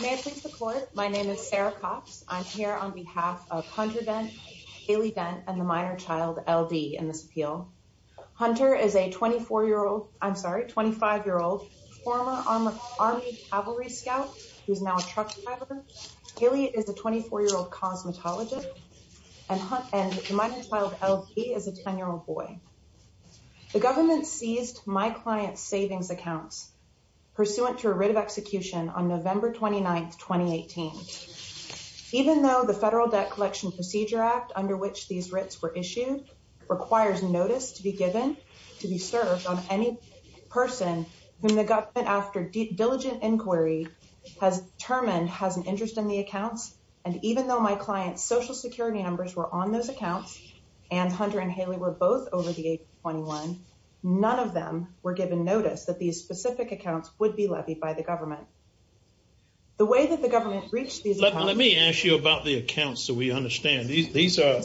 May it please the Court, my name is Sarah Cox. I'm here on behalf of Hunter Dent, Haley Dent, and the minor child, LD, in this appeal. Hunter is a 24-year-old, I'm sorry, 25-year-old former Army Cavalry Scout who is now a truck driver. Haley is a 24-year-old cosmetologist, and the minor child, LD, is a 10-year-old boy. The government seized my client's savings accounts pursuant to a writ of execution on November 29, 2018. Even though the Federal Debt Collection Procedure Act under which these writs were issued requires notice to be given to be served on any person whom the government, after diligent inquiry, has determined has an interest in the accounts, and even though my client's Social Security numbers were on those accounts, and Hunter and Haley were both over the age of 21, none of them were given notice that these specific accounts would be levied by the government. The way that the government reached these accounts... Let me ask you about the accounts so we understand. These are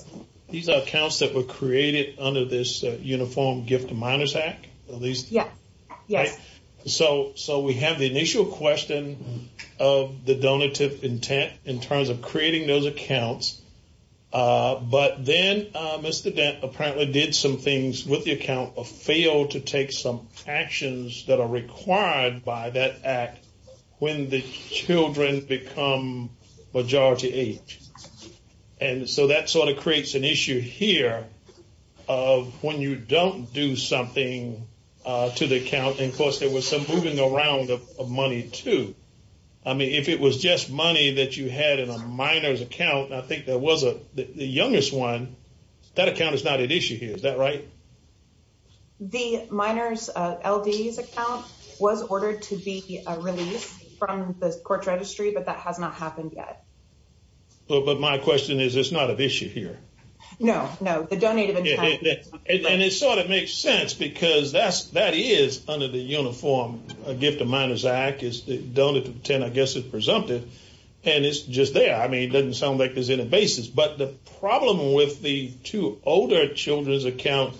accounts that were created under this Uniform Gift to Minors Act? Yes, yes. So we have the initial question of the donative intent in terms of creating those accounts, but then Mr. Dent apparently did some things with the account or failed to take some actions that are required by that act when the children become majority age. And so that sort of creates an issue here of when you don't do something to the account, and of course there was some moving around of money too. I mean, if it was just money that you had in a minor's account, and I think that was the youngest one, that account is not at issue here, is that right? The minor's LD's account was ordered to be released from the court registry, but that has not happened yet. But my question is, it's not at issue here? No, no. The donative intent... And it sort of makes sense because that is under the Uniform Gift to Minors Act, is the donative intent, I guess it's presumptive, and it's just there. I mean, it doesn't sound like there's any basis. But the problem with the two older children's accounts,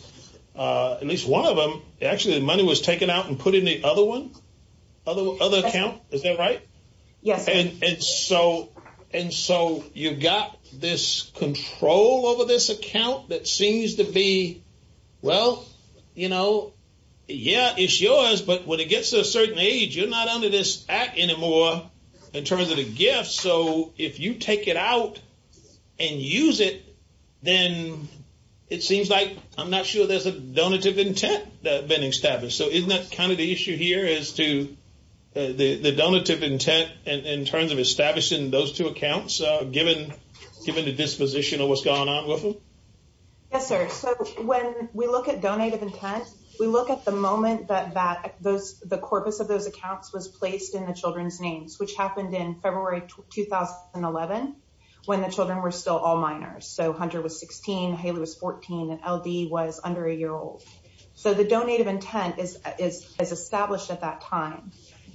at least one of them, actually the money was taken out and put in the other account, is that right? Yes, sir. And so you've got this control over this account that seems to be, well, you know, yeah, it's yours, but when it gets to a certain age, you're not under this act anymore in terms of the gift. So if you take it out and use it, then it seems like I'm not sure there's a donative intent that's been established. So isn't that kind of the issue here as to the donative intent in terms of establishing those two accounts, given the disposition of what's going on with them? Yes, sir. So when we look at donative intent, we look at the moment that the corpus of those accounts was placed in the children's names, which happened in February 2011, when the children were still all minors. So Hunter was 16, Haley was 14, and LD was under a year old. So the donative intent is established at that time.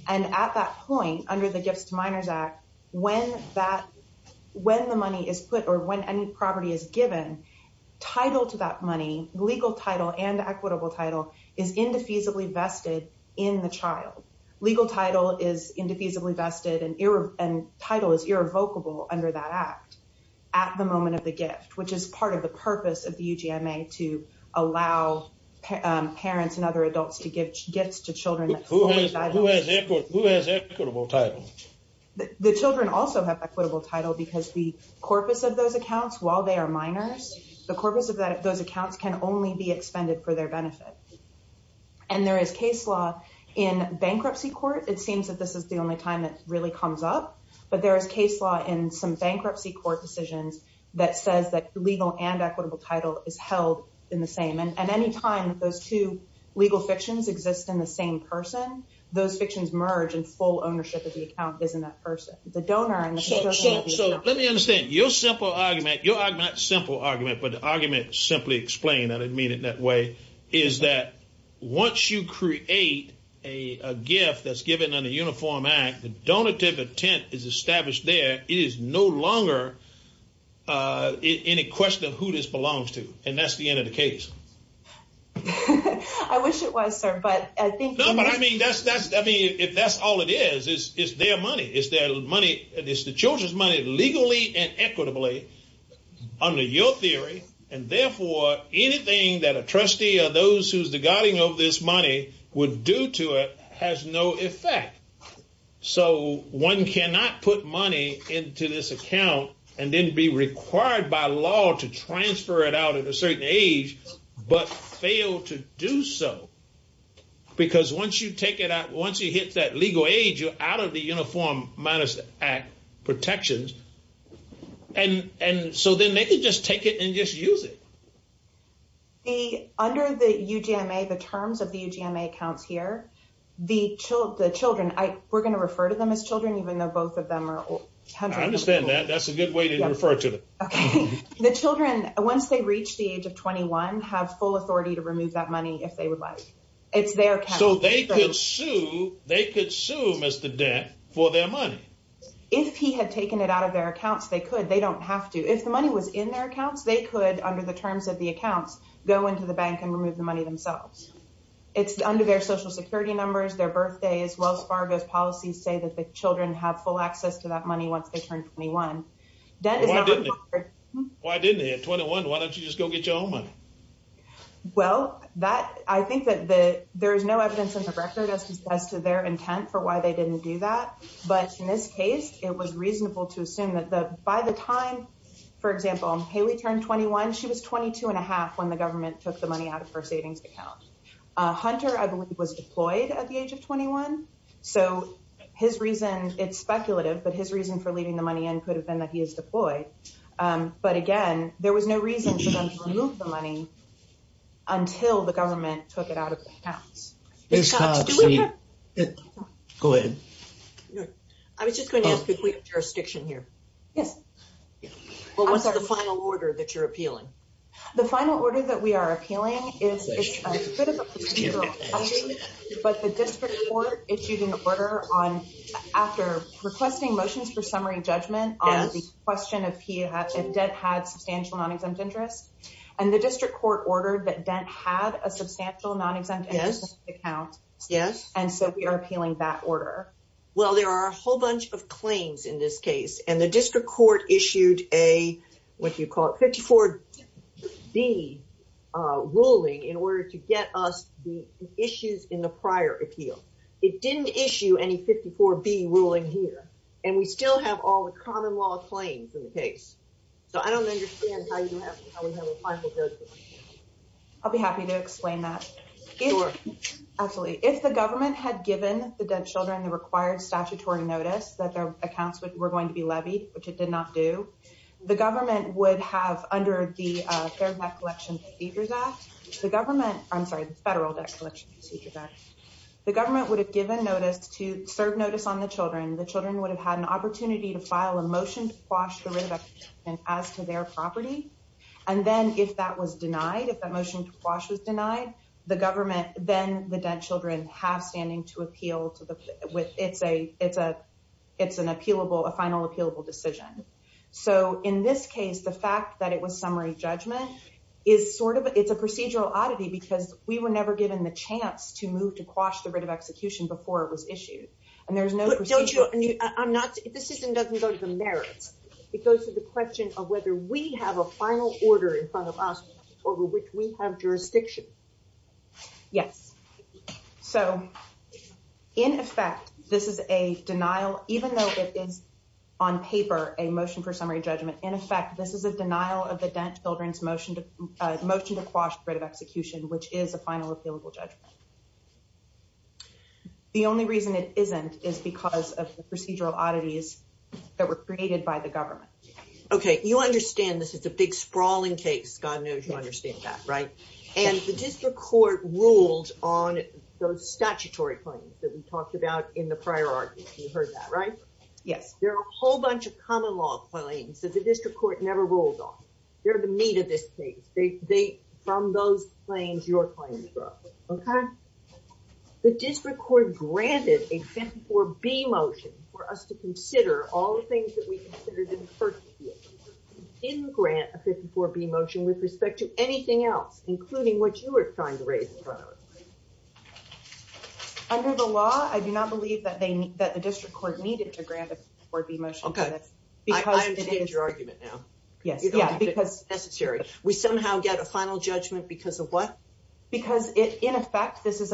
And at that point, under the Gifts to Minors Act, when the money is put or when any property is given, title to that money, legal title and equitable title, is indefeasibly vested in the child. Legal title is indefeasibly vested and title is irrevocable under that act at the moment of the gift, which is part of the purpose of the UGMA to allow parents and other adults to give gifts to children. Who has equitable title? The children also have equitable title because the corpus of those accounts, while they are minors, the corpus of those accounts can only be expended for their benefit. And there is case law in bankruptcy court. It seems that this is the only time it really comes up. But there is case law in some bankruptcy court decisions that says that legal and equitable title is held in the same. And any time those two legal fictions exist in the same person, those fictions merge and full ownership of the account is in that person. So let me understand. Your simple argument, your argument, not simple argument, but the argument simply explained, I didn't mean it that way, is that once you create a gift that's given under Uniform Act, the donative intent is established there. It is no longer any question of who this belongs to. And that's the end of the case. I wish it was, sir. But I think. No, but I mean, that's that's I mean, if that's all it is, it's their money. It's their money. It's the children's money legally and equitably under your theory. And therefore, anything that a trustee or those who's the guiding of this money would do to it has no effect. So one cannot put money into this account and then be required by law to transfer it out at a certain age, but fail to do so. Because once you take it out, once you hit that legal age, you're out of the Uniform Minus Act protections. And and so then they can just take it and just use it. Under the UGMA, the terms of the UGMA accounts here, the children, we're going to refer to them as children, even though both of them are 100 years old. I understand that. That's a good way to refer to them. The children, once they reach the age of 21, have full authority to remove that money if they would like. It's their account. So they could sue, they could sue Mr. Dent for their money. If he had taken it out of their accounts, they could. They don't have to. If the money was in their accounts, they could, under the terms of the accounts, go into the bank and remove the money themselves. It's under their Social Security numbers, their birthdays. Wells Fargo's policies say that the children have full access to that money once they turn 21. Why didn't they? At 21, why don't you just go get your own money? Well, I think that there is no evidence in the record as to their intent for why they didn't do that. But in this case, it was reasonable to assume that by the time, for example, Haley turned 21, she was 22 and a half when the government took the money out of her savings account. Hunter, I believe, was deployed at the age of 21. So his reason, it's speculative, but his reason for leaving the money in could have been that he is deployed. But again, there was no reason for them to remove the money until the government took it out of their accounts. Go ahead. I was just going to ask if we have jurisdiction here. Yes. Well, what's the final order that you're appealing? The final order that we are appealing is a bit of a procedural item, but the district court issued an order after requesting motions for summary judgment on the question of if Dent had substantial non-exempt interest. And the district court ordered that Dent had a substantial non-exempt interest account. Yes. And so we are appealing that order. Well, there are a whole bunch of claims in this case, and the district court issued a, what do you call it, 54B ruling in order to get us the issues in the prior appeal. It didn't issue any 54B ruling here, and we still have all the common law claims in the case. So I don't understand how we have a final judgment. I'll be happy to explain that. Sure. Absolutely. If the government had given the Dent children the required statutory notice that their accounts were going to be levied, which it did not do, the government would have, under the Federal Debt Collection Procedures Act, I'm sorry, the Federal Debt Collection Procedures Act, the government would have given notice to serve notice on the children. The children would have had an opportunity to file a motion to quash the writ of execution as to their property. And then if that was denied, if that motion to quash was denied, the government, then the Dent children have standing to appeal to the, it's an appealable, a final appealable decision. So in this case, the fact that it was summary judgment is sort of, it's a procedural oddity because we were never given the chance to move to quash the writ of execution before it was issued. But don't you, I'm not, if the system doesn't go to the merits, it goes to the question of whether we have a final order in front of us over which we have jurisdiction. Yes. So in effect, this is a denial, even though it is on paper, a motion for summary judgment, in effect, this is a denial of the Dent children's motion to motion to quash the writ of execution, which is a final appealable judgment. The only reason it isn't is because of the procedural oddities that were created by the government. Okay. You understand this is a big sprawling case. God knows you understand that, right? And the district court ruled on those statutory claims that we talked about in the prior argument. You heard that, right? Yes. There are a whole bunch of common law claims that the district court never ruled on. They're the meat of this case. From those claims, your claims were up. Okay. The district court granted a 54B motion for us to consider all the things that we considered in the first year. It didn't grant a 54B motion with respect to anything else, including what you were trying to raise in front of us. Under the law, I do not believe that the district court needed to grant a 54B motion. Okay. I understand your argument now. Yes. We somehow get a final judgment because of what? Because, in effect, this is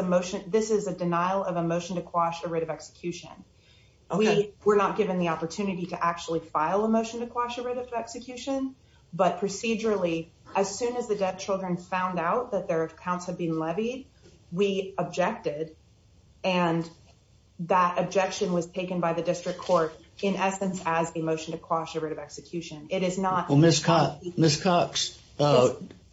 a denial of a motion to quash a writ of execution. Okay. We're not given the opportunity to actually file a motion to quash a writ of execution, but procedurally, as soon as the dead children found out that their accounts had been levied, we objected, and that objection was taken by the district court in essence as a motion to quash a writ of execution. It is not. Ms. Cox,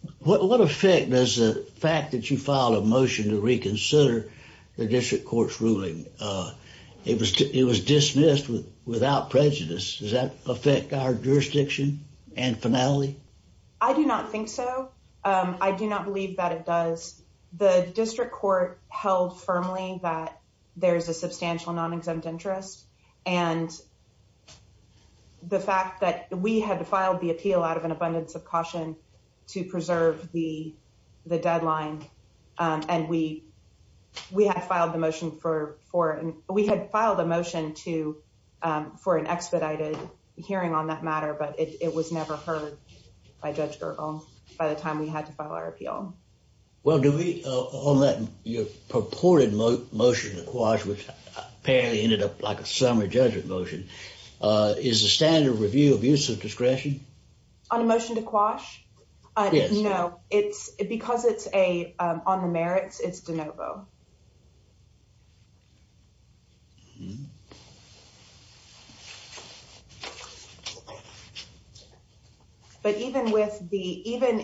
what effect does the fact that you filed a motion to reconsider the district court's ruling, it was dismissed without prejudice, does that affect our jurisdiction and finality? I do not think so. I do not believe that it does. The district court held firmly that there's a substantial non-exempt interest, and the fact that we had filed the appeal out of an abundance of caution to preserve the deadline, and we had filed a motion for an expedited hearing on that matter, but it was never heard by Judge Gergel by the time we had to file our appeal. Well, on that purported motion to quash, which apparently ended up like a summary judgment motion, is the standard review of use of discretion? On a motion to quash? Yes. No. Because it's on the merits, it's de novo. But even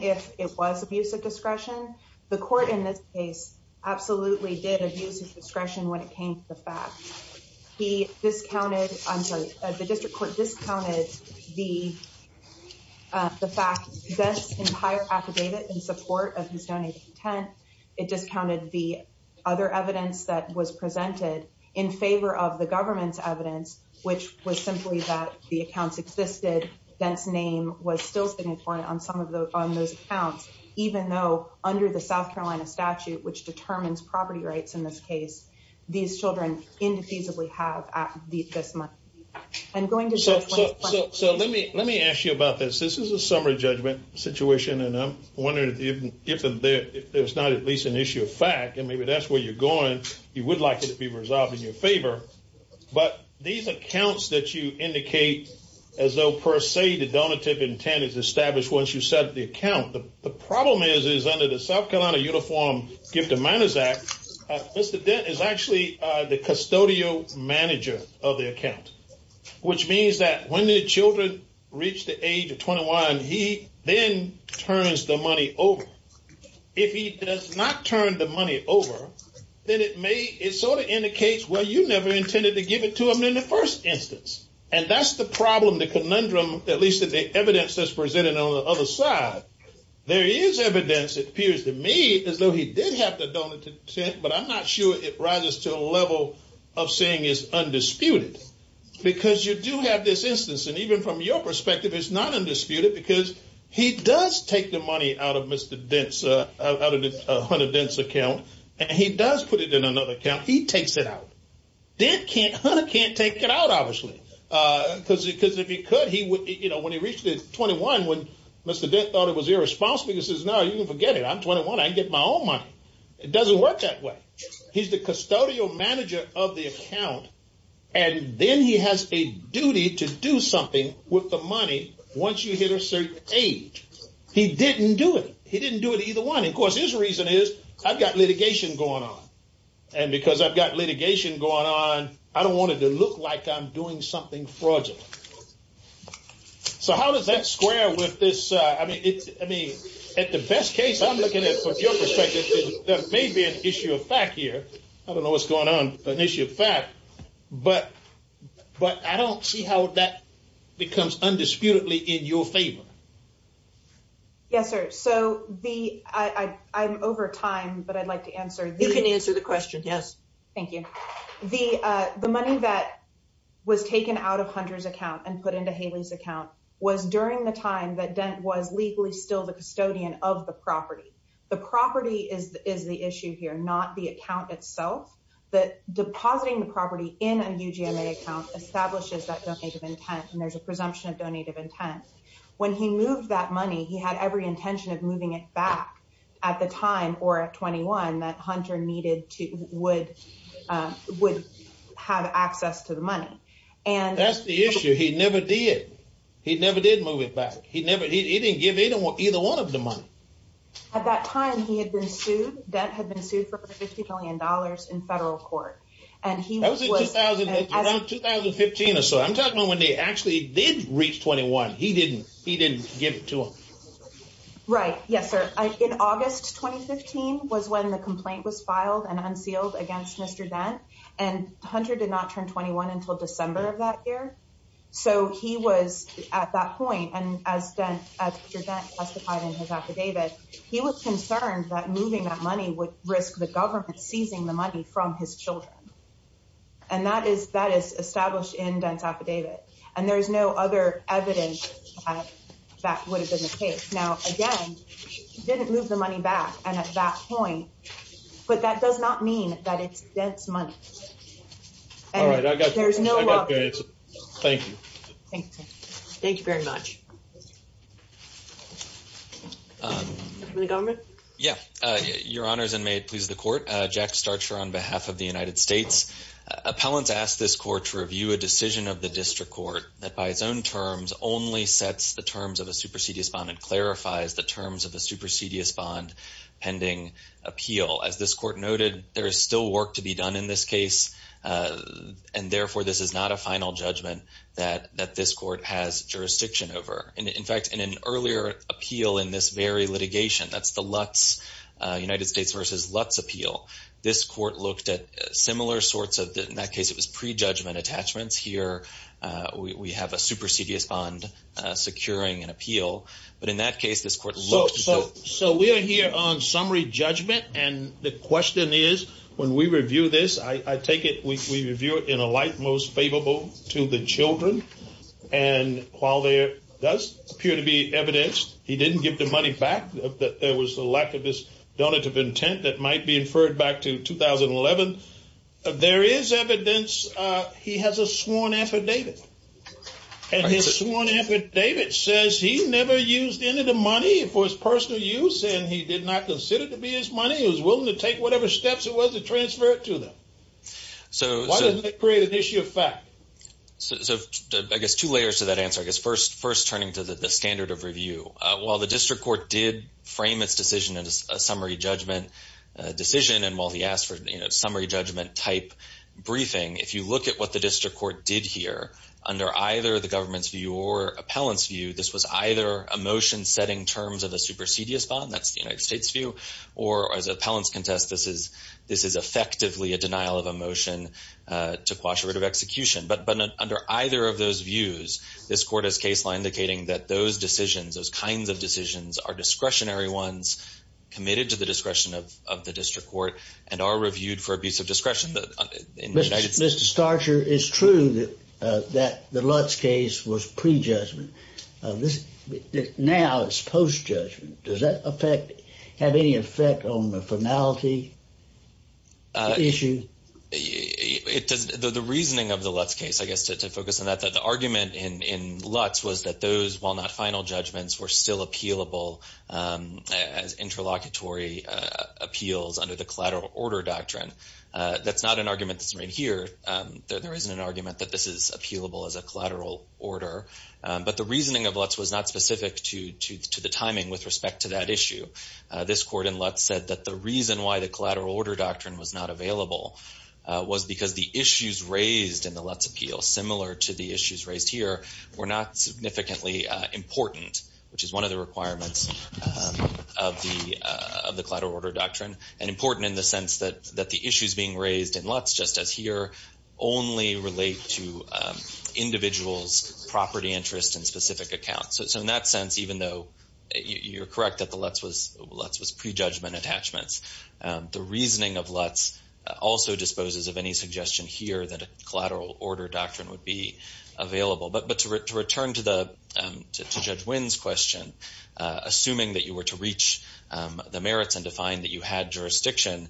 if it was abuse of discretion, the court in this case absolutely did abuse of discretion when it came to the fact. The district court discounted the fact that this entire affidavit in support of his donated intent, it discounted the other evidence that was presented in favor of the government's evidence, which was simply that the accounts existed, Dent's name was still significant on some of those accounts, even though under the South Carolina statute, which determines property rights in this case, these children indefensibly have this month. So let me ask you about this. This is a summary judgment situation, and I'm wondering if there's not at least an issue of fact, and maybe that's where you're going. You would like it to be resolved in your favor. But these accounts that you indicate as though per se the donative intent is established once you set the account. The problem is, is under the South Carolina Uniform Gift of Manners Act, Mr. Dent is actually the custodial manager of the account, which means that when the children reach the age of 21, he then turns the money over. If he does not turn the money over, then it sort of indicates, well, you never intended to give it to him in the first instance. And that's the problem, the conundrum, at least in the evidence that's presented on the other side. There is evidence, it appears to me, as though he did have the donative intent, but I'm not sure it rises to a level of saying it's undisputed. Because you do have this instance, and even from your perspective, it's not undisputed, because he does take the money out of Mr. Dent's account, and he does put it in another account. He takes it out. Dent can't take it out, obviously, because if he could, when he reached 21, when Mr. Dent thought it was irresponsible, he says, no, you can forget it. I'm 21. I can get my own money. It doesn't work that way. He's the custodial manager of the account, and then he has a duty to do something with the money once you hit a certain age. He didn't do it. He didn't do it either one. Of course, his reason is, I've got litigation going on. And because I've got litigation going on, I don't want it to look like I'm doing something fraudulent. So how does that square with this? At the best case, I'm looking at, from your perspective, there may be an issue of fact here. I don't know what's going on, an issue of fact, but I don't see how that becomes undisputedly in your favor. Yes, sir. So I'm over time, but I'd like to answer. You can answer the question. Yes. Thank you. The money that was taken out of Hunter's account and put into Haley's account was during the time that Dent was legally still the custodian of the property. The property is the issue here, not the account itself. Depositing the property in a UGMA account establishes that donative intent, and there's a presumption of donative intent. When he moved that money, he had every intention of moving it back at the time, or at 21, that Hunter would have access to the money. That's the issue. He never did. He never did move it back. He didn't give either one of them money. At that time, he had been sued. Dent had been sued for $50 billion in federal court. That was around 2015 or so. I'm talking about when they actually did reach 21. He didn't give it to them. Right. Yes, sir. In August 2015 was when the complaint was filed and unsealed against Mr. Dent, and Hunter did not turn 21 until December of that year. So he was, at that point, and as Mr. Dent testified in his affidavit, he was concerned that moving that money would risk the government seizing the money from his children. And that is established in Dent's affidavit. And there's no other evidence that that would have been the case. Now, again, he didn't move the money back at that point, but that does not mean that it's Dent's money. All right. I got you. Thank you. Thank you. Thank you very much. From the government? Yeah. Your Honors, and may it please the Court, Jack Starcher on behalf of the United States. Appellants asked this court to review a decision of the district court that by its own terms only sets the terms of a supersedious bond and clarifies the terms of a supersedious bond pending appeal. As this court noted, there is still work to be done in this case, and therefore, this is not a final judgment that this court has jurisdiction over. In fact, in an earlier appeal in this very litigation, that's the Lutz, United States v. Lutz appeal, this court looked at similar sorts of, in that case, it was pre-judgment attachments. Here, we have a supersedious bond securing an appeal. But in that case, this court looked at… So we are here on summary judgment, and the question is, when we review this, I take it we review it in a light most favorable to the children. And while there does appear to be evidence he didn't give the money back, that there was a lack of this donative intent that might be inferred back to 2011, there is evidence he has a sworn affidavit. And his sworn affidavit says he never used any of the money for his personal use, and he did not consider it to be his money. He was willing to take whatever steps it was to transfer it to them. Why doesn't that create an issue of fact? So I guess two layers to that answer. I guess first turning to the standard of review. While the district court did frame its decision as a summary judgment decision, and while he asked for a summary judgment type briefing, if you look at what the district court did here, under either the government's view or appellant's view, this was either a motion setting terms of a supersedious bond, that's the United States' view, or as appellants contest, this is effectively a denial of a motion to quash a writ of execution. But under either of those views, this court has case law indicating that those decisions, those kinds of decisions, are discretionary ones, committed to the discretion of the district court, and are reviewed for abuse of discretion. Mr. Starcher, it's true that the Lutz case was prejudgment. Now it's post-judgment. Does that have any effect on the finality issue? The reasoning of the Lutz case, I guess, to focus on that, that the argument in Lutz was that those, while not final judgments, were still appealable as interlocutory appeals under the collateral order doctrine. That's not an argument that's right here. There isn't an argument that this is appealable as a collateral order. But the reasoning of Lutz was not specific to the timing with respect to that issue. This court in Lutz said that the reason why the collateral order doctrine was not available was because the issues raised in the Lutz appeal, similar to the issues raised here, were not significantly important, which is one of the requirements of the collateral order doctrine, and important in the sense that the issues being raised in Lutz, just as here, only relate to individuals' property interests and specific accounts. So in that sense, even though you're correct that the Lutz was prejudgment attachments, the reasoning of Lutz also disposes of any suggestion here that a collateral order doctrine would be available. But to return to Judge Winn's question, assuming that you were to reach the merits and to find that you had jurisdiction,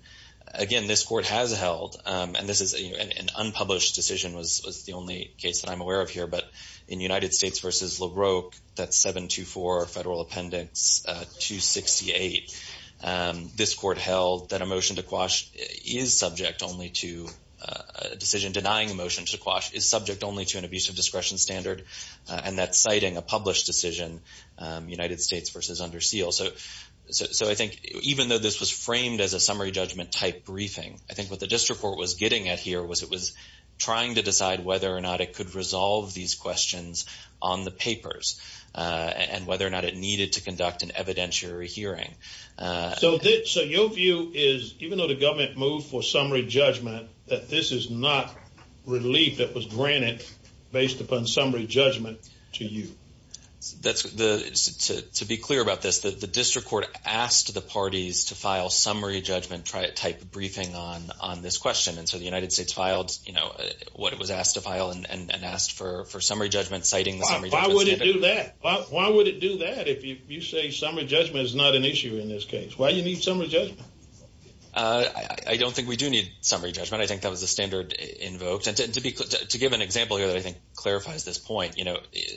again, this court has held, and an unpublished decision was the only case that I'm aware of here, but in United States v. LaRocque, that 724 Federal Appendix 268, this court held that a motion to quash is subject only to a decision denying a motion to quash is subject only to an abusive discretion standard, and that's citing a published decision, United States v. Under Seal. So I think even though this was framed as a summary judgment-type briefing, I think what the district court was getting at here was it was trying to decide whether or not it could resolve these questions on the papers and whether or not it needed to conduct an evidentiary hearing. So your view is, even though the government moved for summary judgment, that this is not relief that was granted based upon summary judgment to you? To be clear about this, the district court asked the parties to file summary judgment-type briefing on this question, and so the United States filed what it was asked to file and asked for summary judgment citing the summary judgment standard. Why would it do that? Why would it do that if you say summary judgment is not an issue in this case? Why do you need summary judgment? I don't think we do need summary judgment. I think that was the standard invoked. And to give an example here that I think clarifies this point,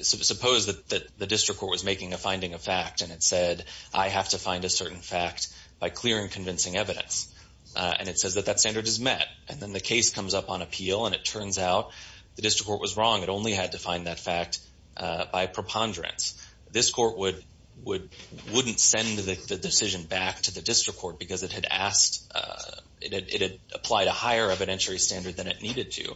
suppose that the district court was making a finding of fact and it said, I have to find a certain fact by clearing convincing evidence, and it says that that standard is met. And then the case comes up on appeal and it turns out the district court was wrong. It only had to find that fact by preponderance. This court wouldn't send the decision back to the district court because it had applied a higher evidentiary standard than it needed to.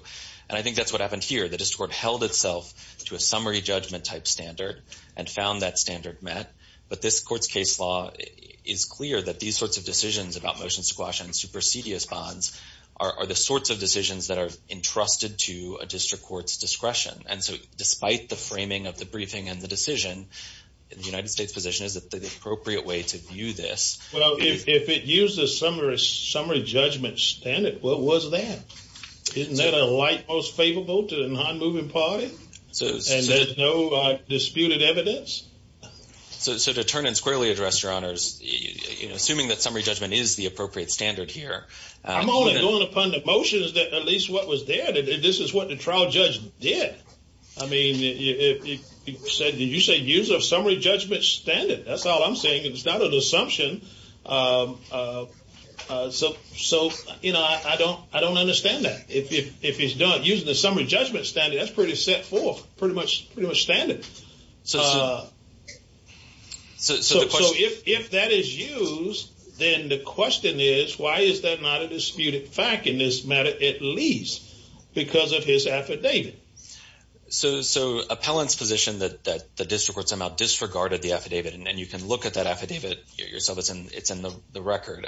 And I think that's what happened here. The district court held itself to a summary judgment-type standard and found that standard met. But this court's case law is clear that these sorts of decisions about motion squash and supersedious bonds are the sorts of decisions that are entrusted to a district court's discretion. And so despite the framing of the briefing and the decision, the United States' position is that the appropriate way to view this – Well, if it used a summary judgment standard, what was that? Isn't that a light most favorable to the non-moving party? And there's no disputed evidence? So to turn and squarely address your honors, assuming that summary judgment is the appropriate standard here. I'm only going upon the motion as at least what was there. This is what the trial judge did. I mean, you said use a summary judgment standard. That's all I'm saying. It's not an assumption. So, you know, I don't understand that. If it's done using the summary judgment standard, that's pretty set forth, pretty much standard. So if that is used, then the question is, why is that not a disputed fact in this matter at least? Because of his affidavit. So appellant's position that the district court somehow disregarded the affidavit, and you can look at that affidavit yourself, it's in the record,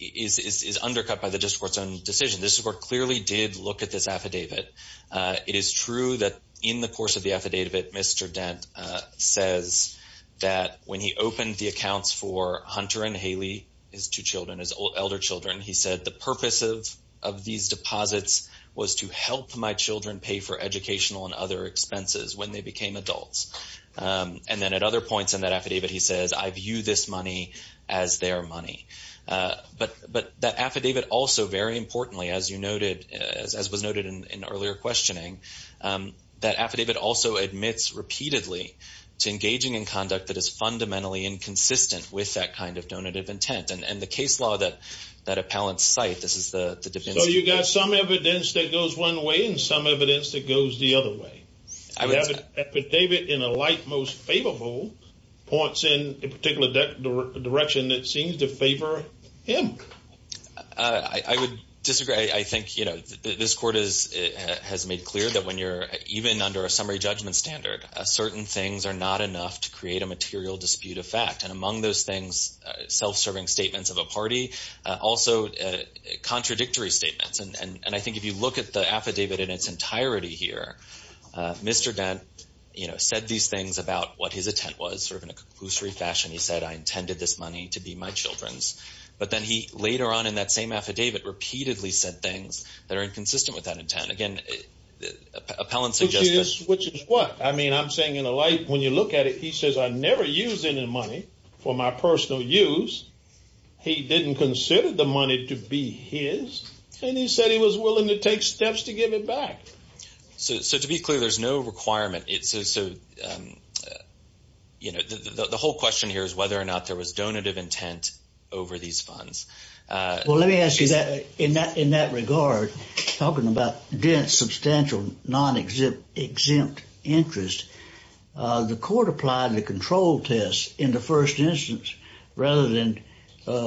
is undercut by the district court's own decision. The district court clearly did look at this affidavit. It is true that in the course of the affidavit, Mr. Dent says that when he opened the accounts for Hunter and Haley, his two children, his elder children, he said the purpose of these deposits was to help my children pay for educational and other expenses when they became adults. And then at other points in that affidavit, he says, I view this money as their money. But that affidavit also, very importantly, as you noted, as was noted in earlier questioning, that affidavit also admits repeatedly to engaging in conduct that is fundamentally inconsistent with that kind of donative intent. And the case law that appellants cite, this is the difference. So you've got some evidence that goes one way and some evidence that goes the other way. An affidavit in a light most favorable points in a particular direction that seems to favor him. I would disagree. I think this court has made clear that when you're even under a summary judgment standard, certain things are not enough to create a material dispute of fact. And among those things, self-serving statements of a party, also contradictory statements. And I think if you look at the affidavit in its entirety here, Mr. Dent, you know, said these things about what his intent was, sort of in a conclusory fashion. He said, I intended this money to be my children's. But then he later on in that same affidavit repeatedly said things that are inconsistent with that intent. Again, appellants suggest that. Which is what? I mean, I'm saying in a light, when you look at it, he says, I never used any money for my personal use. He didn't consider the money to be his. And he said he was willing to take steps to give it back. So to be clear, there's no requirement. So, you know, the whole question here is whether or not there was donative intent over these funds. Well, let me ask you that in that regard, talking about Dent's substantial non-exempt interest, the court applied the control test in the first instance rather than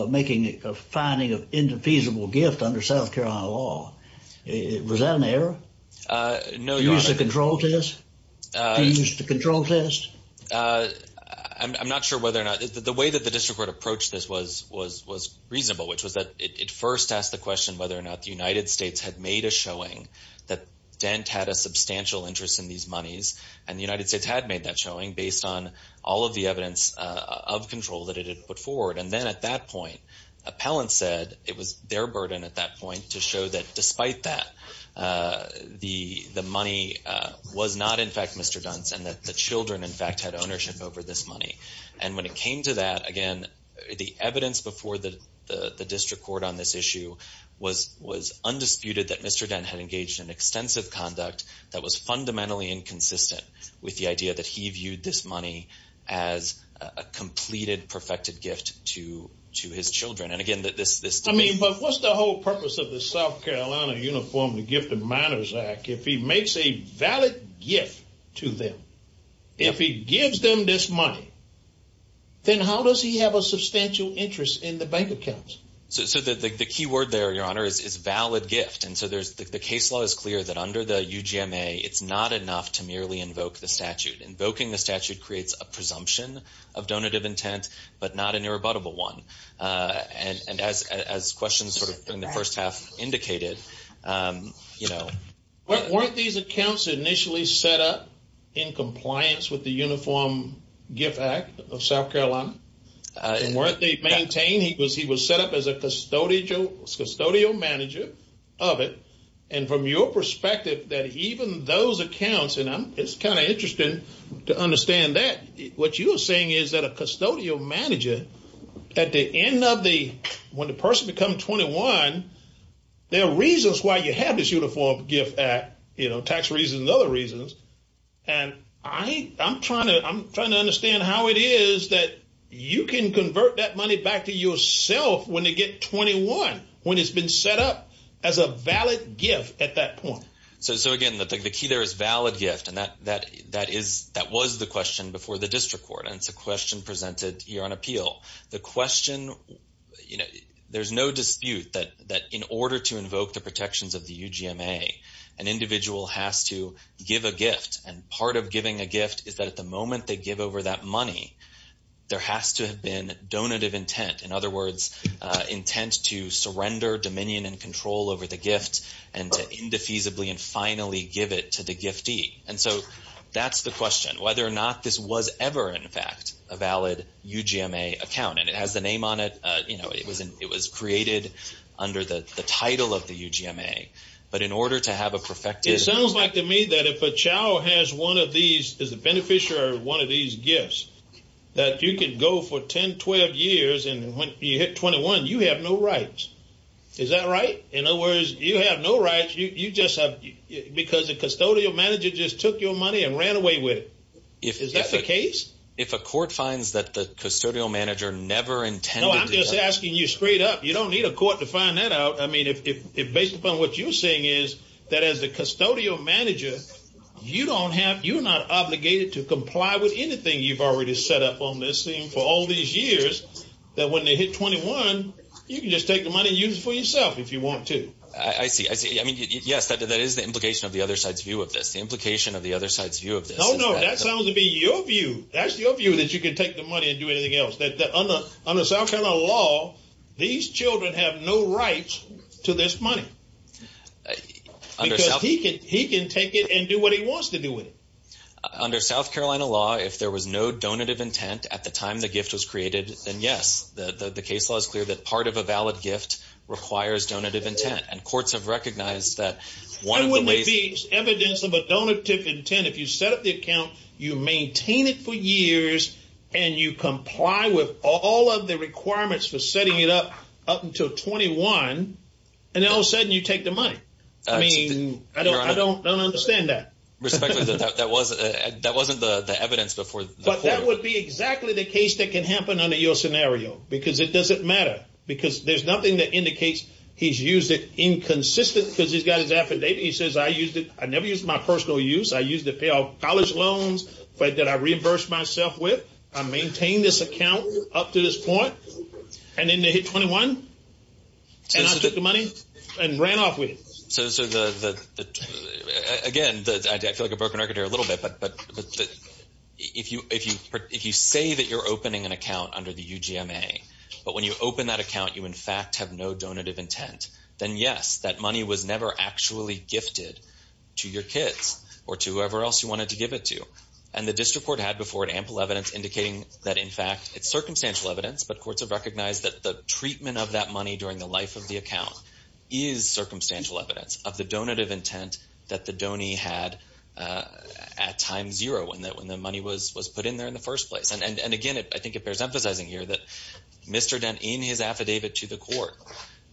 making a finding of infeasible gift under South Carolina law. Was that an error? No, Your Honor. You used the control test? You used the control test? I'm not sure whether or not. The way that the district court approached this was reasonable, which was that it first asked the question whether or not the United States had made a showing that Dent had a substantial interest in these monies. And the United States had made that showing based on all of the evidence of control that it had put forward. And then at that point, appellants said it was their burden at that point to show that despite that, the money was not, in fact, Mr. Dent's and that the children, in fact, had ownership over this money. And when it came to that, again, the evidence before the district court on this issue was undisputed that Mr. Dent had engaged in extensive conduct that was fundamentally inconsistent with the idea that he viewed this money as a completed, perfected gift to his children. And, again, this debate. I mean, but what's the whole purpose of the South Carolina Uniform and Gift of Minors Act? If he makes a valid gift to them, if he gives them this money, then how does he have a substantial interest in the bank accounts? So the key word there, Your Honor, is valid gift. And so the case law is clear that under the UGMA, it's not enough to merely invoke the statute. Invoking the statute creates a presumption of donative intent but not an irrebuttable one. And as questions sort of in the first half indicated, you know. Weren't these accounts initially set up in compliance with the Uniform Gift Act of South Carolina? And weren't they maintained? He was set up as a custodial manager of it. And from your perspective, that even those accounts, and it's kind of interesting to understand that, what you are saying is that a custodial manager, at the end of the, when the person becomes 21, there are reasons why you have this Uniform Gift Act, you know, tax reasons and other reasons. And I'm trying to understand how it is that you can convert that money back to yourself when they get 21, when it's been set up as a valid gift at that point. So again, the key there is valid gift. And that was the question before the district court, and it's a question presented here on appeal. The question, you know, there's no dispute that in order to invoke the protections of the UGMA, an individual has to give a gift. And part of giving a gift is that at the moment they give over that money, there has to have been donative intent. In other words, intent to surrender dominion and control over the gift and to indefeasibly and finally give it to the giftee. And so that's the question, whether or not this was ever, in fact, a valid UGMA account. And it has the name on it. You know, it was created under the title of the UGMA. But in order to have a perfected- It sounds like to me that if a child has one of these, is a beneficiary of one of these gifts, that you can go for 10, 12 years, and when you hit 21, you have no rights. Is that right? In other words, you have no rights. You just have, because the custodial manager just took your money and ran away with it. Is that the case? If a court finds that the custodial manager never intended to- No, I'm just asking you straight up. You don't need a court to find that out. I mean, if based upon what you're saying is that as a custodial manager, you're not obligated to comply with anything you've already set up on this thing for all these years, that when they hit 21, you can just take the money and use it for yourself if you want to. I see. I see. I mean, yes, that is the implication of the other side's view of this. The implication of the other side's view of this- No, no, that sounds to be your view. That's your view, that you can take the money and do anything else. Under South Carolina law, these children have no rights to this money. Because he can take it and do what he wants to do with it. Under South Carolina law, if there was no donative intent at the time the gift was created, then yes. The case law is clear that part of a valid gift requires donative intent, and courts have recognized that one of the ways- And would there be evidence of a donative intent if you set up the account, you maintain it for years, and you comply with all of the requirements for setting it up up until 21, and all of a sudden you take the money? I mean, I don't understand that. Respectfully, that wasn't the evidence before. But that would be exactly the case that can happen under your scenario, because it doesn't matter. Because there's nothing that indicates he's used it inconsistently, because he's got his affidavit. He says, I never used it for my personal use. I used it to pay off college loans that I reimbursed myself with. I maintained this account up to this point. And then they hit 21, and I took the money and ran off with it. So again, I feel like I've broken the record here a little bit, but if you say that you're opening an account under the UGMA, but when you open that account you in fact have no donative intent, then yes, that money was never actually gifted to your kids or to whoever else you wanted to give it to. And the district court had before it ample evidence indicating that, in fact, it's circumstantial evidence, but courts have recognized that the treatment of that money during the life of the account is circumstantial evidence of the donative intent that the donor had at time zero, when the money was put in there in the first place. And again, I think it bears emphasizing here that Mr. Dent, in his affidavit to the court,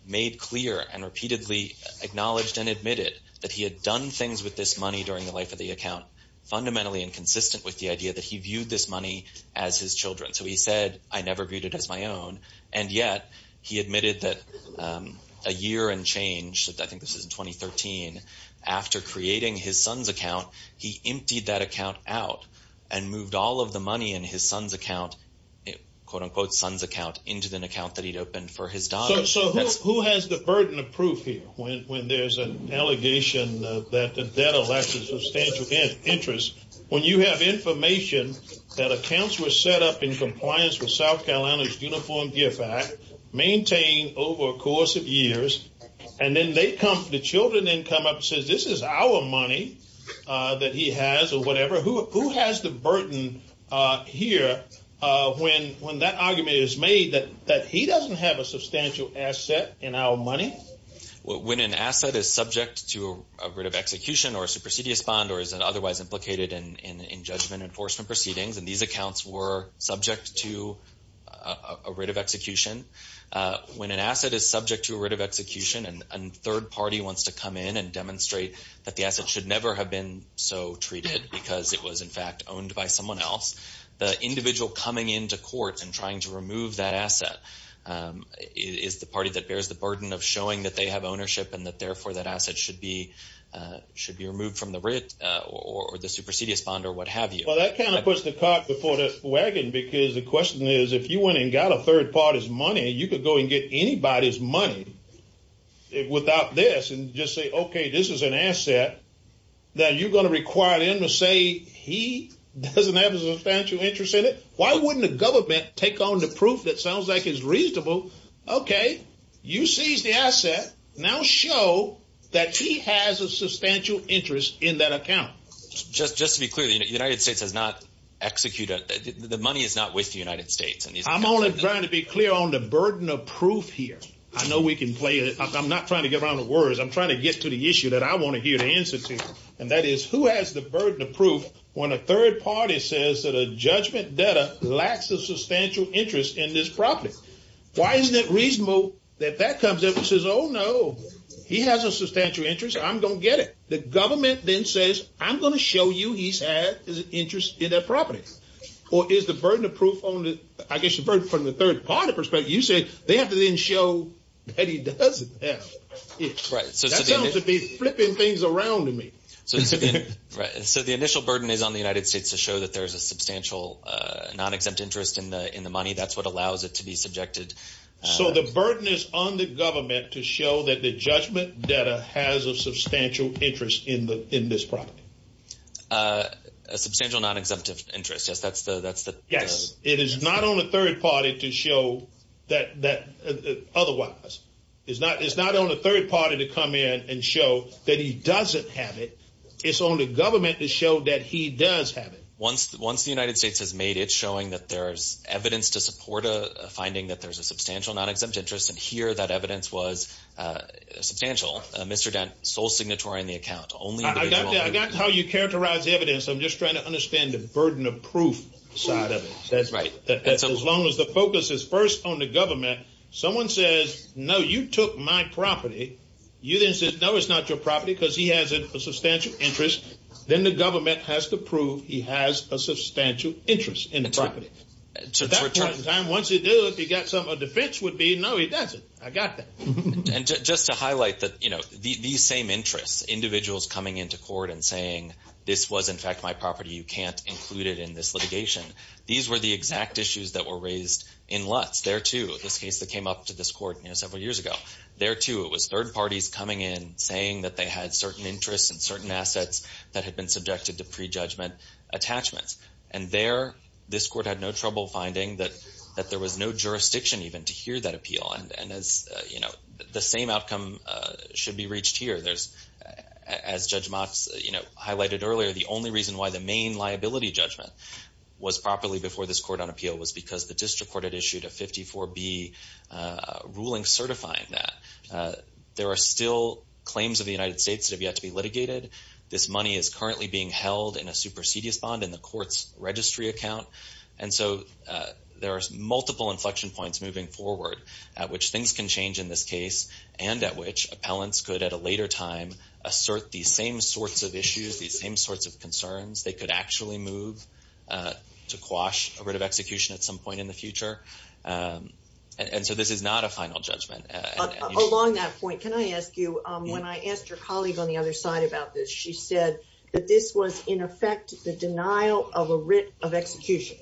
made clear and repeatedly acknowledged and admitted that he had done things with this money during the life of the account fundamentally inconsistent with the idea that he viewed this money as his children. So he said, I never viewed it as my own, and yet he admitted that a year and change, I think this was in 2013, after creating his son's account, he emptied that account out and moved all of the money in his son's account, into an account that he'd opened for his daughter. So who has the burden of proof here when there's an allegation that the debtor lacks a substantial interest when you have information that accounts were set up in compliance with South Carolina's Uniform Gift Act, maintained over a course of years, and then the children then come up and say, this is our money that he has, or whatever. Who has the burden here when that argument is made that he doesn't have a substantial asset in our money? When an asset is subject to a writ of execution or a supersedious bond, or is otherwise implicated in judgment enforcement proceedings, and these accounts were subject to a writ of execution, when an asset is subject to a writ of execution and a third party wants to come in and demonstrate that the asset should never have been so treated because it was in fact owned by someone else, the individual coming into court and trying to remove that asset is the party that bears the burden of showing that they have ownership and that therefore that asset should be removed from the writ or the supersedious bond or what have you. Well, that kind of puts the cart before the wagon, because the question is, if you went and got a third party's money, you could go and get anybody's money without this and just say, okay, this is an asset that you're going to require them to say he doesn't have a substantial interest in it. Why wouldn't the government take on the proof that sounds like it's reasonable? Okay, you seized the asset. Now show that he has a substantial interest in that account. Just to be clear, the United States has not executed, the money is not with the United States. I'm only trying to be clear on the burden of proof here. I know we can play it. I'm not trying to get around the words. I'm trying to get to the issue that I want to hear the answer to, and that is who has the burden of proof when a third party says that a judgment debtor lacks a substantial interest in this property? Why isn't it reasonable that that comes up and says, oh, no, he has a substantial interest, I'm going to get it. The government then says, I'm going to show you he's had an interest in that property. Or is the burden of proof only, I guess, from the third party perspective? You said they have to then show that he doesn't have it. That sounds to be flipping things around to me. So the initial burden is on the United States to show that there's a substantial non-exempt interest in the money. That's what allows it to be subjected. So the burden is on the government to show that the judgment debtor has a substantial interest in this property. A substantial non-exemptive interest. Yes, that's the. Yes, it is not on the third party to show that otherwise. It's not on the third party to come in and show that he doesn't have it. It's on the government to show that he does have it. Once the United States has made it showing that there's evidence to support a finding that there's a substantial non-exempt interest, and here that evidence was substantial, Mr. Dent, sole signatory in the account. I got how you characterize the evidence. I'm just trying to understand the burden of proof side of it. That's right. As long as the focus is first on the government, someone says, no, you took my property. You then said, no, it's not your property because he has a substantial interest. Then the government has to prove he has a substantial interest in the property. So at that point in time, once you do it, you got some defense would be, no, he doesn't. I got that. And just to highlight that, you know, these same interests, individuals coming into court and saying this was, in fact, my property. You can't include it in this litigation. These were the exact issues that were raised in Lutz. There, too, this case that came up to this court several years ago. There, too, it was third parties coming in saying that they had certain interests and certain assets that had been subjected to prejudgment attachments. And there, this court had no trouble finding that there was no jurisdiction even to hear that appeal. And, you know, the same outcome should be reached here. As Judge Motz, you know, highlighted earlier, the only reason why the main liability judgment was properly before this court on appeal was because the district court had issued a 54B ruling certifying that. There are still claims of the United States that have yet to be litigated. This money is currently being held in a supersedious bond in the court's registry account. And so there are multiple inflection points moving forward at which things can change in this case and at which appellants could at a later time assert these same sorts of issues, these same sorts of concerns. They could actually move to quash a writ of execution at some point in the future. And so this is not a final judgment. Along that point, can I ask you, when I asked your colleague on the other side about this, she said that this was, in effect, the denial of a writ of execution.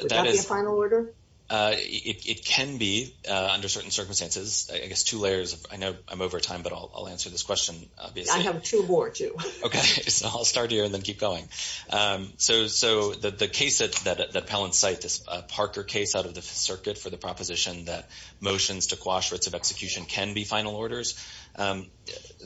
Would that be a final order? It can be under certain circumstances. I guess two layers. I know I'm over time, but I'll answer this question, obviously. I have two more, too. Okay. So I'll start here and then keep going. So the case that appellants cite, this Parker case out of the circuit for the proposition that motions to quash writs of execution can be final orders,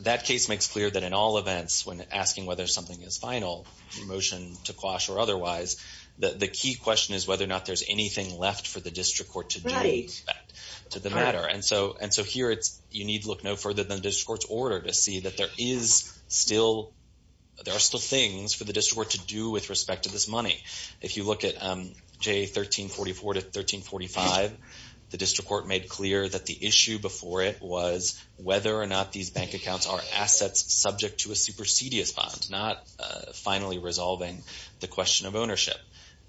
that case makes clear that in all events when asking whether something is final, a motion to quash or otherwise, the key question is whether or not there's anything left for the district court to do in respect to the matter. And so here you need to look no further than the district court's order to see that there is still, there are still things for the district court to do with respect to this money. If you look at J1344 to 1345, the district court made clear that the issue before it was whether or not these bank accounts are assets subject to a supersedious bond, not finally resolving the question of ownership.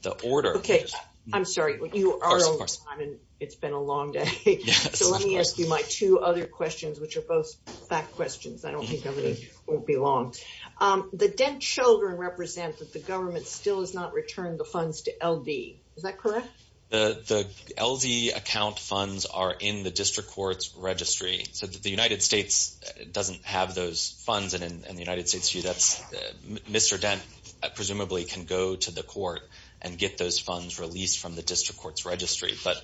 The order. Okay. I'm sorry. You are over time and it's been a long day. So let me ask you my two other questions, which are both fact questions. I don't think nobody won't be long. The Dent children represent that the government still has not returned the funds to LD. Is that correct? The LD account funds are in the district court's registry. So the United States doesn't have those funds. And in the United States, that's Mr. Dent presumably can go to the court and get those funds released from the district court's registry. But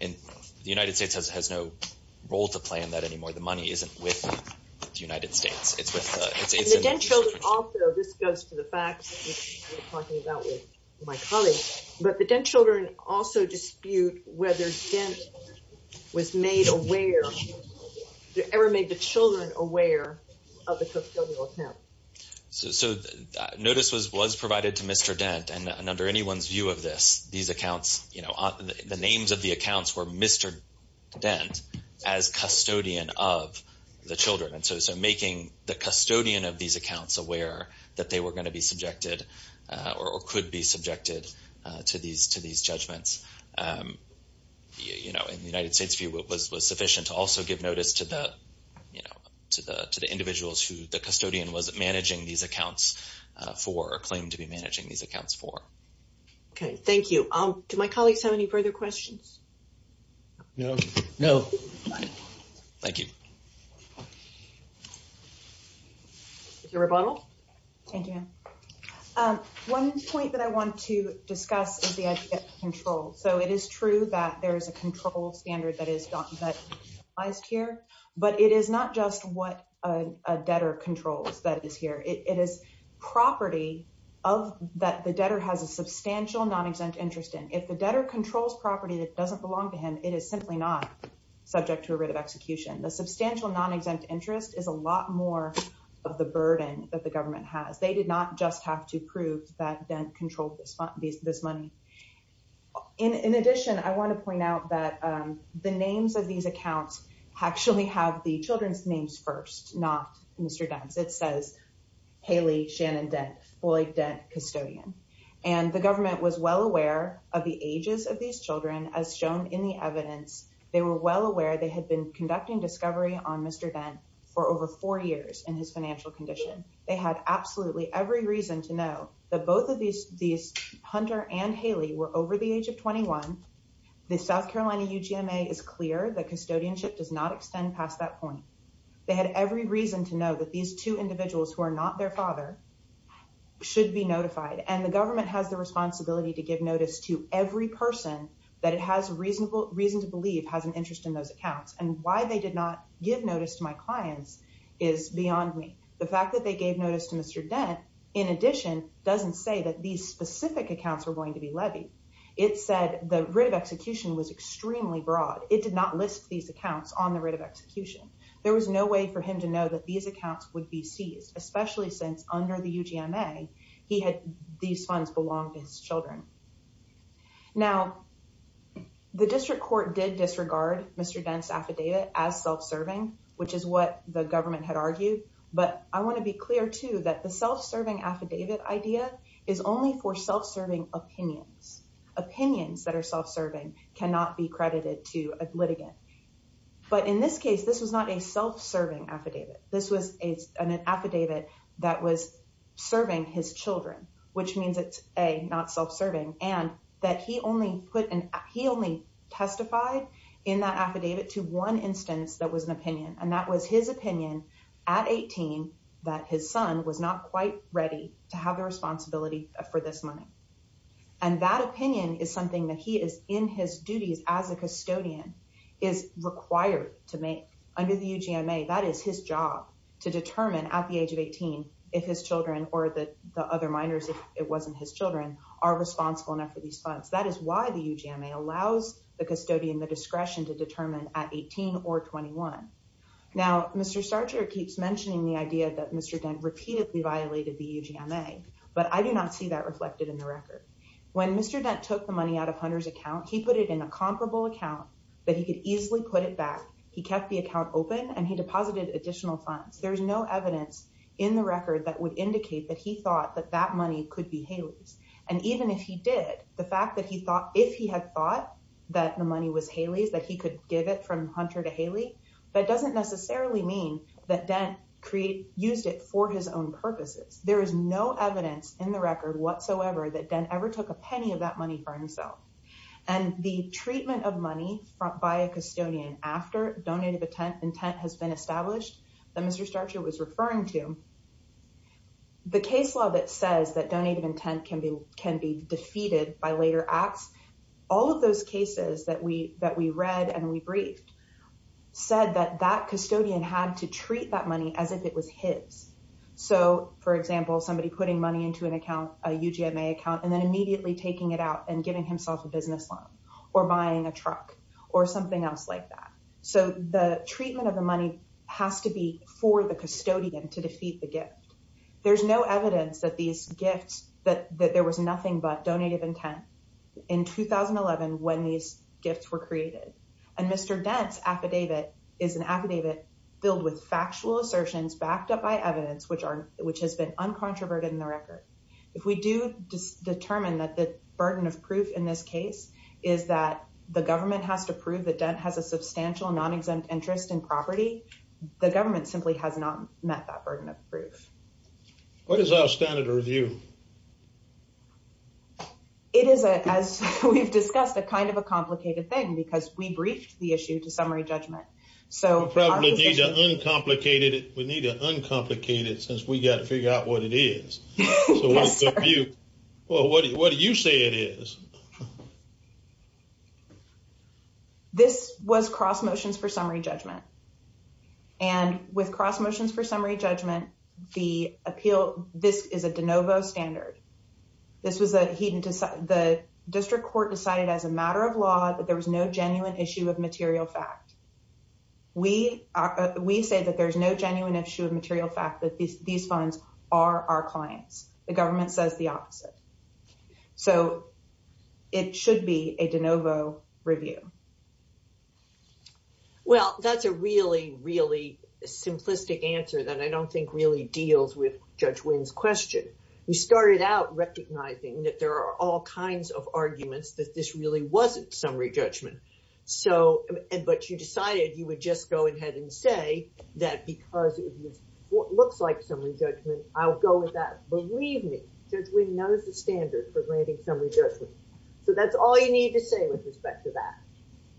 the United States has no role to play in that anymore. The money isn't with the United States. It's in the district court's registry. And the Dent children also, this goes to the facts, which we were talking about with my colleague, but the Dent children also dispute whether Dent was made aware, ever made the children aware of the custodial account. So notice was provided to Mr. Dent and under anyone's view of this, these accounts, you know, the names of the accounts were Mr. Dent as custodian of the children. And so making the custodian of these accounts aware that they were going to be subjected or could be subjected to these judgments, you know, in the United States view was sufficient to also give notice to the, you know, to the individuals who the custodian was managing these accounts for or claimed to be managing these accounts for. Okay. Thank you. Do my colleagues have any further questions? No. No. Thank you. Mr. Rebondal? Thank you. One point that I want to discuss is the idea of control. So it is true that there is a control standard that is utilized here, but it is not just what a debtor controls that is here. It is property that the debtor has a substantial non-exempt interest in. If the debtor controls property that doesn't belong to him, it is simply not subject to a writ of execution. The substantial non-exempt interest is a lot more of the burden that the government has. They did not just have to prove that Dent controlled this money. In addition, I want to point out that the names of these accounts actually have the children's names first, not Mr. Dent's. It says Haley, Shannon Dent, Floyd Dent, custodian. And the government was well aware of the ages of these children as shown in the evidence. They were well aware they had been conducting discovery on Mr. Dent for over four years in his financial condition. They had absolutely every reason to know that both of these Hunter and Haley were over the age of 21. The South Carolina UGMA is clear that custodianship does not extend past that point. They had every reason to know that these two individuals who are not their father should be notified. And the government has the responsibility to give notice to every person that it has reason to believe has an interest in those accounts. And why they did not give notice to my clients is beyond me. The fact that they gave notice to Mr. Dent, in addition, doesn't say that these specific accounts are going to be levied. It said the writ of execution was extremely broad. It did not list these accounts on the writ of execution. There was no way for him to know that these accounts would be seized, especially since under the UGMA, he had these funds belong to his children. Now, the district court did disregard Mr. Dent's affidavit as self-serving, which is what the government had argued. But I want to be clear, too, that the self-serving affidavit idea is only for self-serving opinions. Opinions that are self-serving cannot be credited to a litigant. But in this case, this was not a self-serving affidavit. This was an affidavit that was serving his children, which means it's, A, not self-serving, and that he only testified in that affidavit to one instance that was an opinion, and that was his opinion at 18 that his son was not quite ready to have the responsibility for this money. And that opinion is something that he is in his duties as a custodian is required to make. Under the UGMA, that is his job to determine at the age of 18 if his children or the other minors, if it wasn't his children, are responsible enough for these funds. That is why the UGMA allows the custodian the discretion to determine at 18 or 21. Now, Mr. Starcher keeps mentioning the idea that Mr. Dent repeatedly violated the UGMA, but I do not see that reflected in the record. When Mr. Dent took the money out of Hunter's account, he put it in a comparable account that he could easily put it back. He kept the account open, and he deposited additional funds. There is no evidence in the record that would indicate that he thought that that money could be Haley's. And even if he did, the fact that he thought, if he had thought that the money was Haley's, that he could give it from Hunter to Haley, that doesn't necessarily mean that Dent used it for his own purposes. There is no evidence in the record whatsoever that Dent ever took a penny of that money for himself. And the treatment of money by a custodian after donated intent has been established that Mr. Starcher was referring to, the case law that says that donated intent can be defeated by later acts, all of those cases that we read and we briefed said that that custodian had to treat that money as if it was his. So, for example, somebody putting money into an account, a UGMA account, and then immediately taking it out and giving himself a business loan or buying a truck or something else like that. So the treatment of the money has to be for the custodian to defeat the gift. There's no evidence that there was nothing but donated intent in 2011 when these gifts were created. And Mr. Dent's affidavit is an affidavit filled with factual assertions backed up by evidence, which has been uncontroverted in the record. If we do determine that the burden of proof in this case is that the government has to prove that Dent has a substantial non-exempt interest in property, the government simply has not met that burden of proof. What is our standard of review? It is, as we've discussed, a kind of a complicated thing because we briefed the issue to summary judgment. We probably need to uncomplicate it since we've got to figure out what it is. Yes, sir. Well, what do you say it is? This was cross motions for summary judgment. And with cross motions for summary judgment, this is a de novo standard. The district court decided as a matter of law that there was no genuine issue of material fact. We say that there's no genuine issue of material fact that these funds are our clients. The government says the opposite. So it should be a de novo review. Well, that's a really, really simplistic answer that I don't think really deals with Judge Wynn's question. You started out recognizing that there are all kinds of arguments that this really wasn't summary judgment. But you decided you would just go ahead and say that because it looks like summary judgment, I'll go with that. Believe me, Judge Wynn knows the standard for granting summary judgment. So that's all you need to say with respect to that.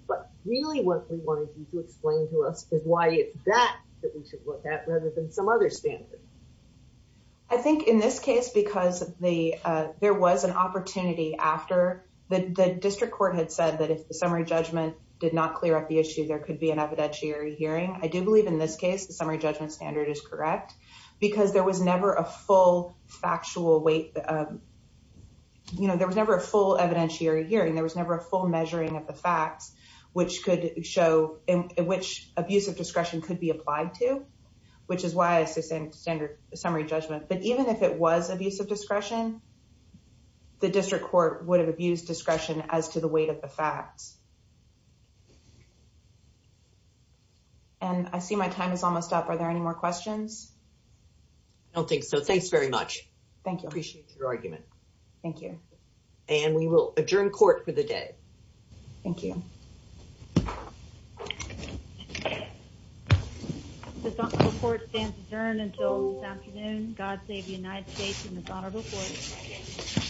But really what we wanted you to explain to us is why it's that that we should look at rather than some other standard. I think in this case, because there was an opportunity after the district court had said that if the summary judgment did not clear up the issue, there could be an evidentiary hearing. I do believe in this case, the summary judgment standard is correct because there was never a full factual weight. You know, there was never a full evidentiary hearing. There was never a full measuring of the facts which could show in which abuse of discretion could be applied to, which is why I say standard summary judgment. But even if it was abuse of discretion, the district court would have abused discretion as to the weight of the facts. And I see my time is almost up. Are there any more questions? I don't think so. Thanks very much. Thank you. Appreciate your argument. Thank you. And we will adjourn court for the day. Thank you. This report stands adjourned until this afternoon. God save the United States and this honorable court.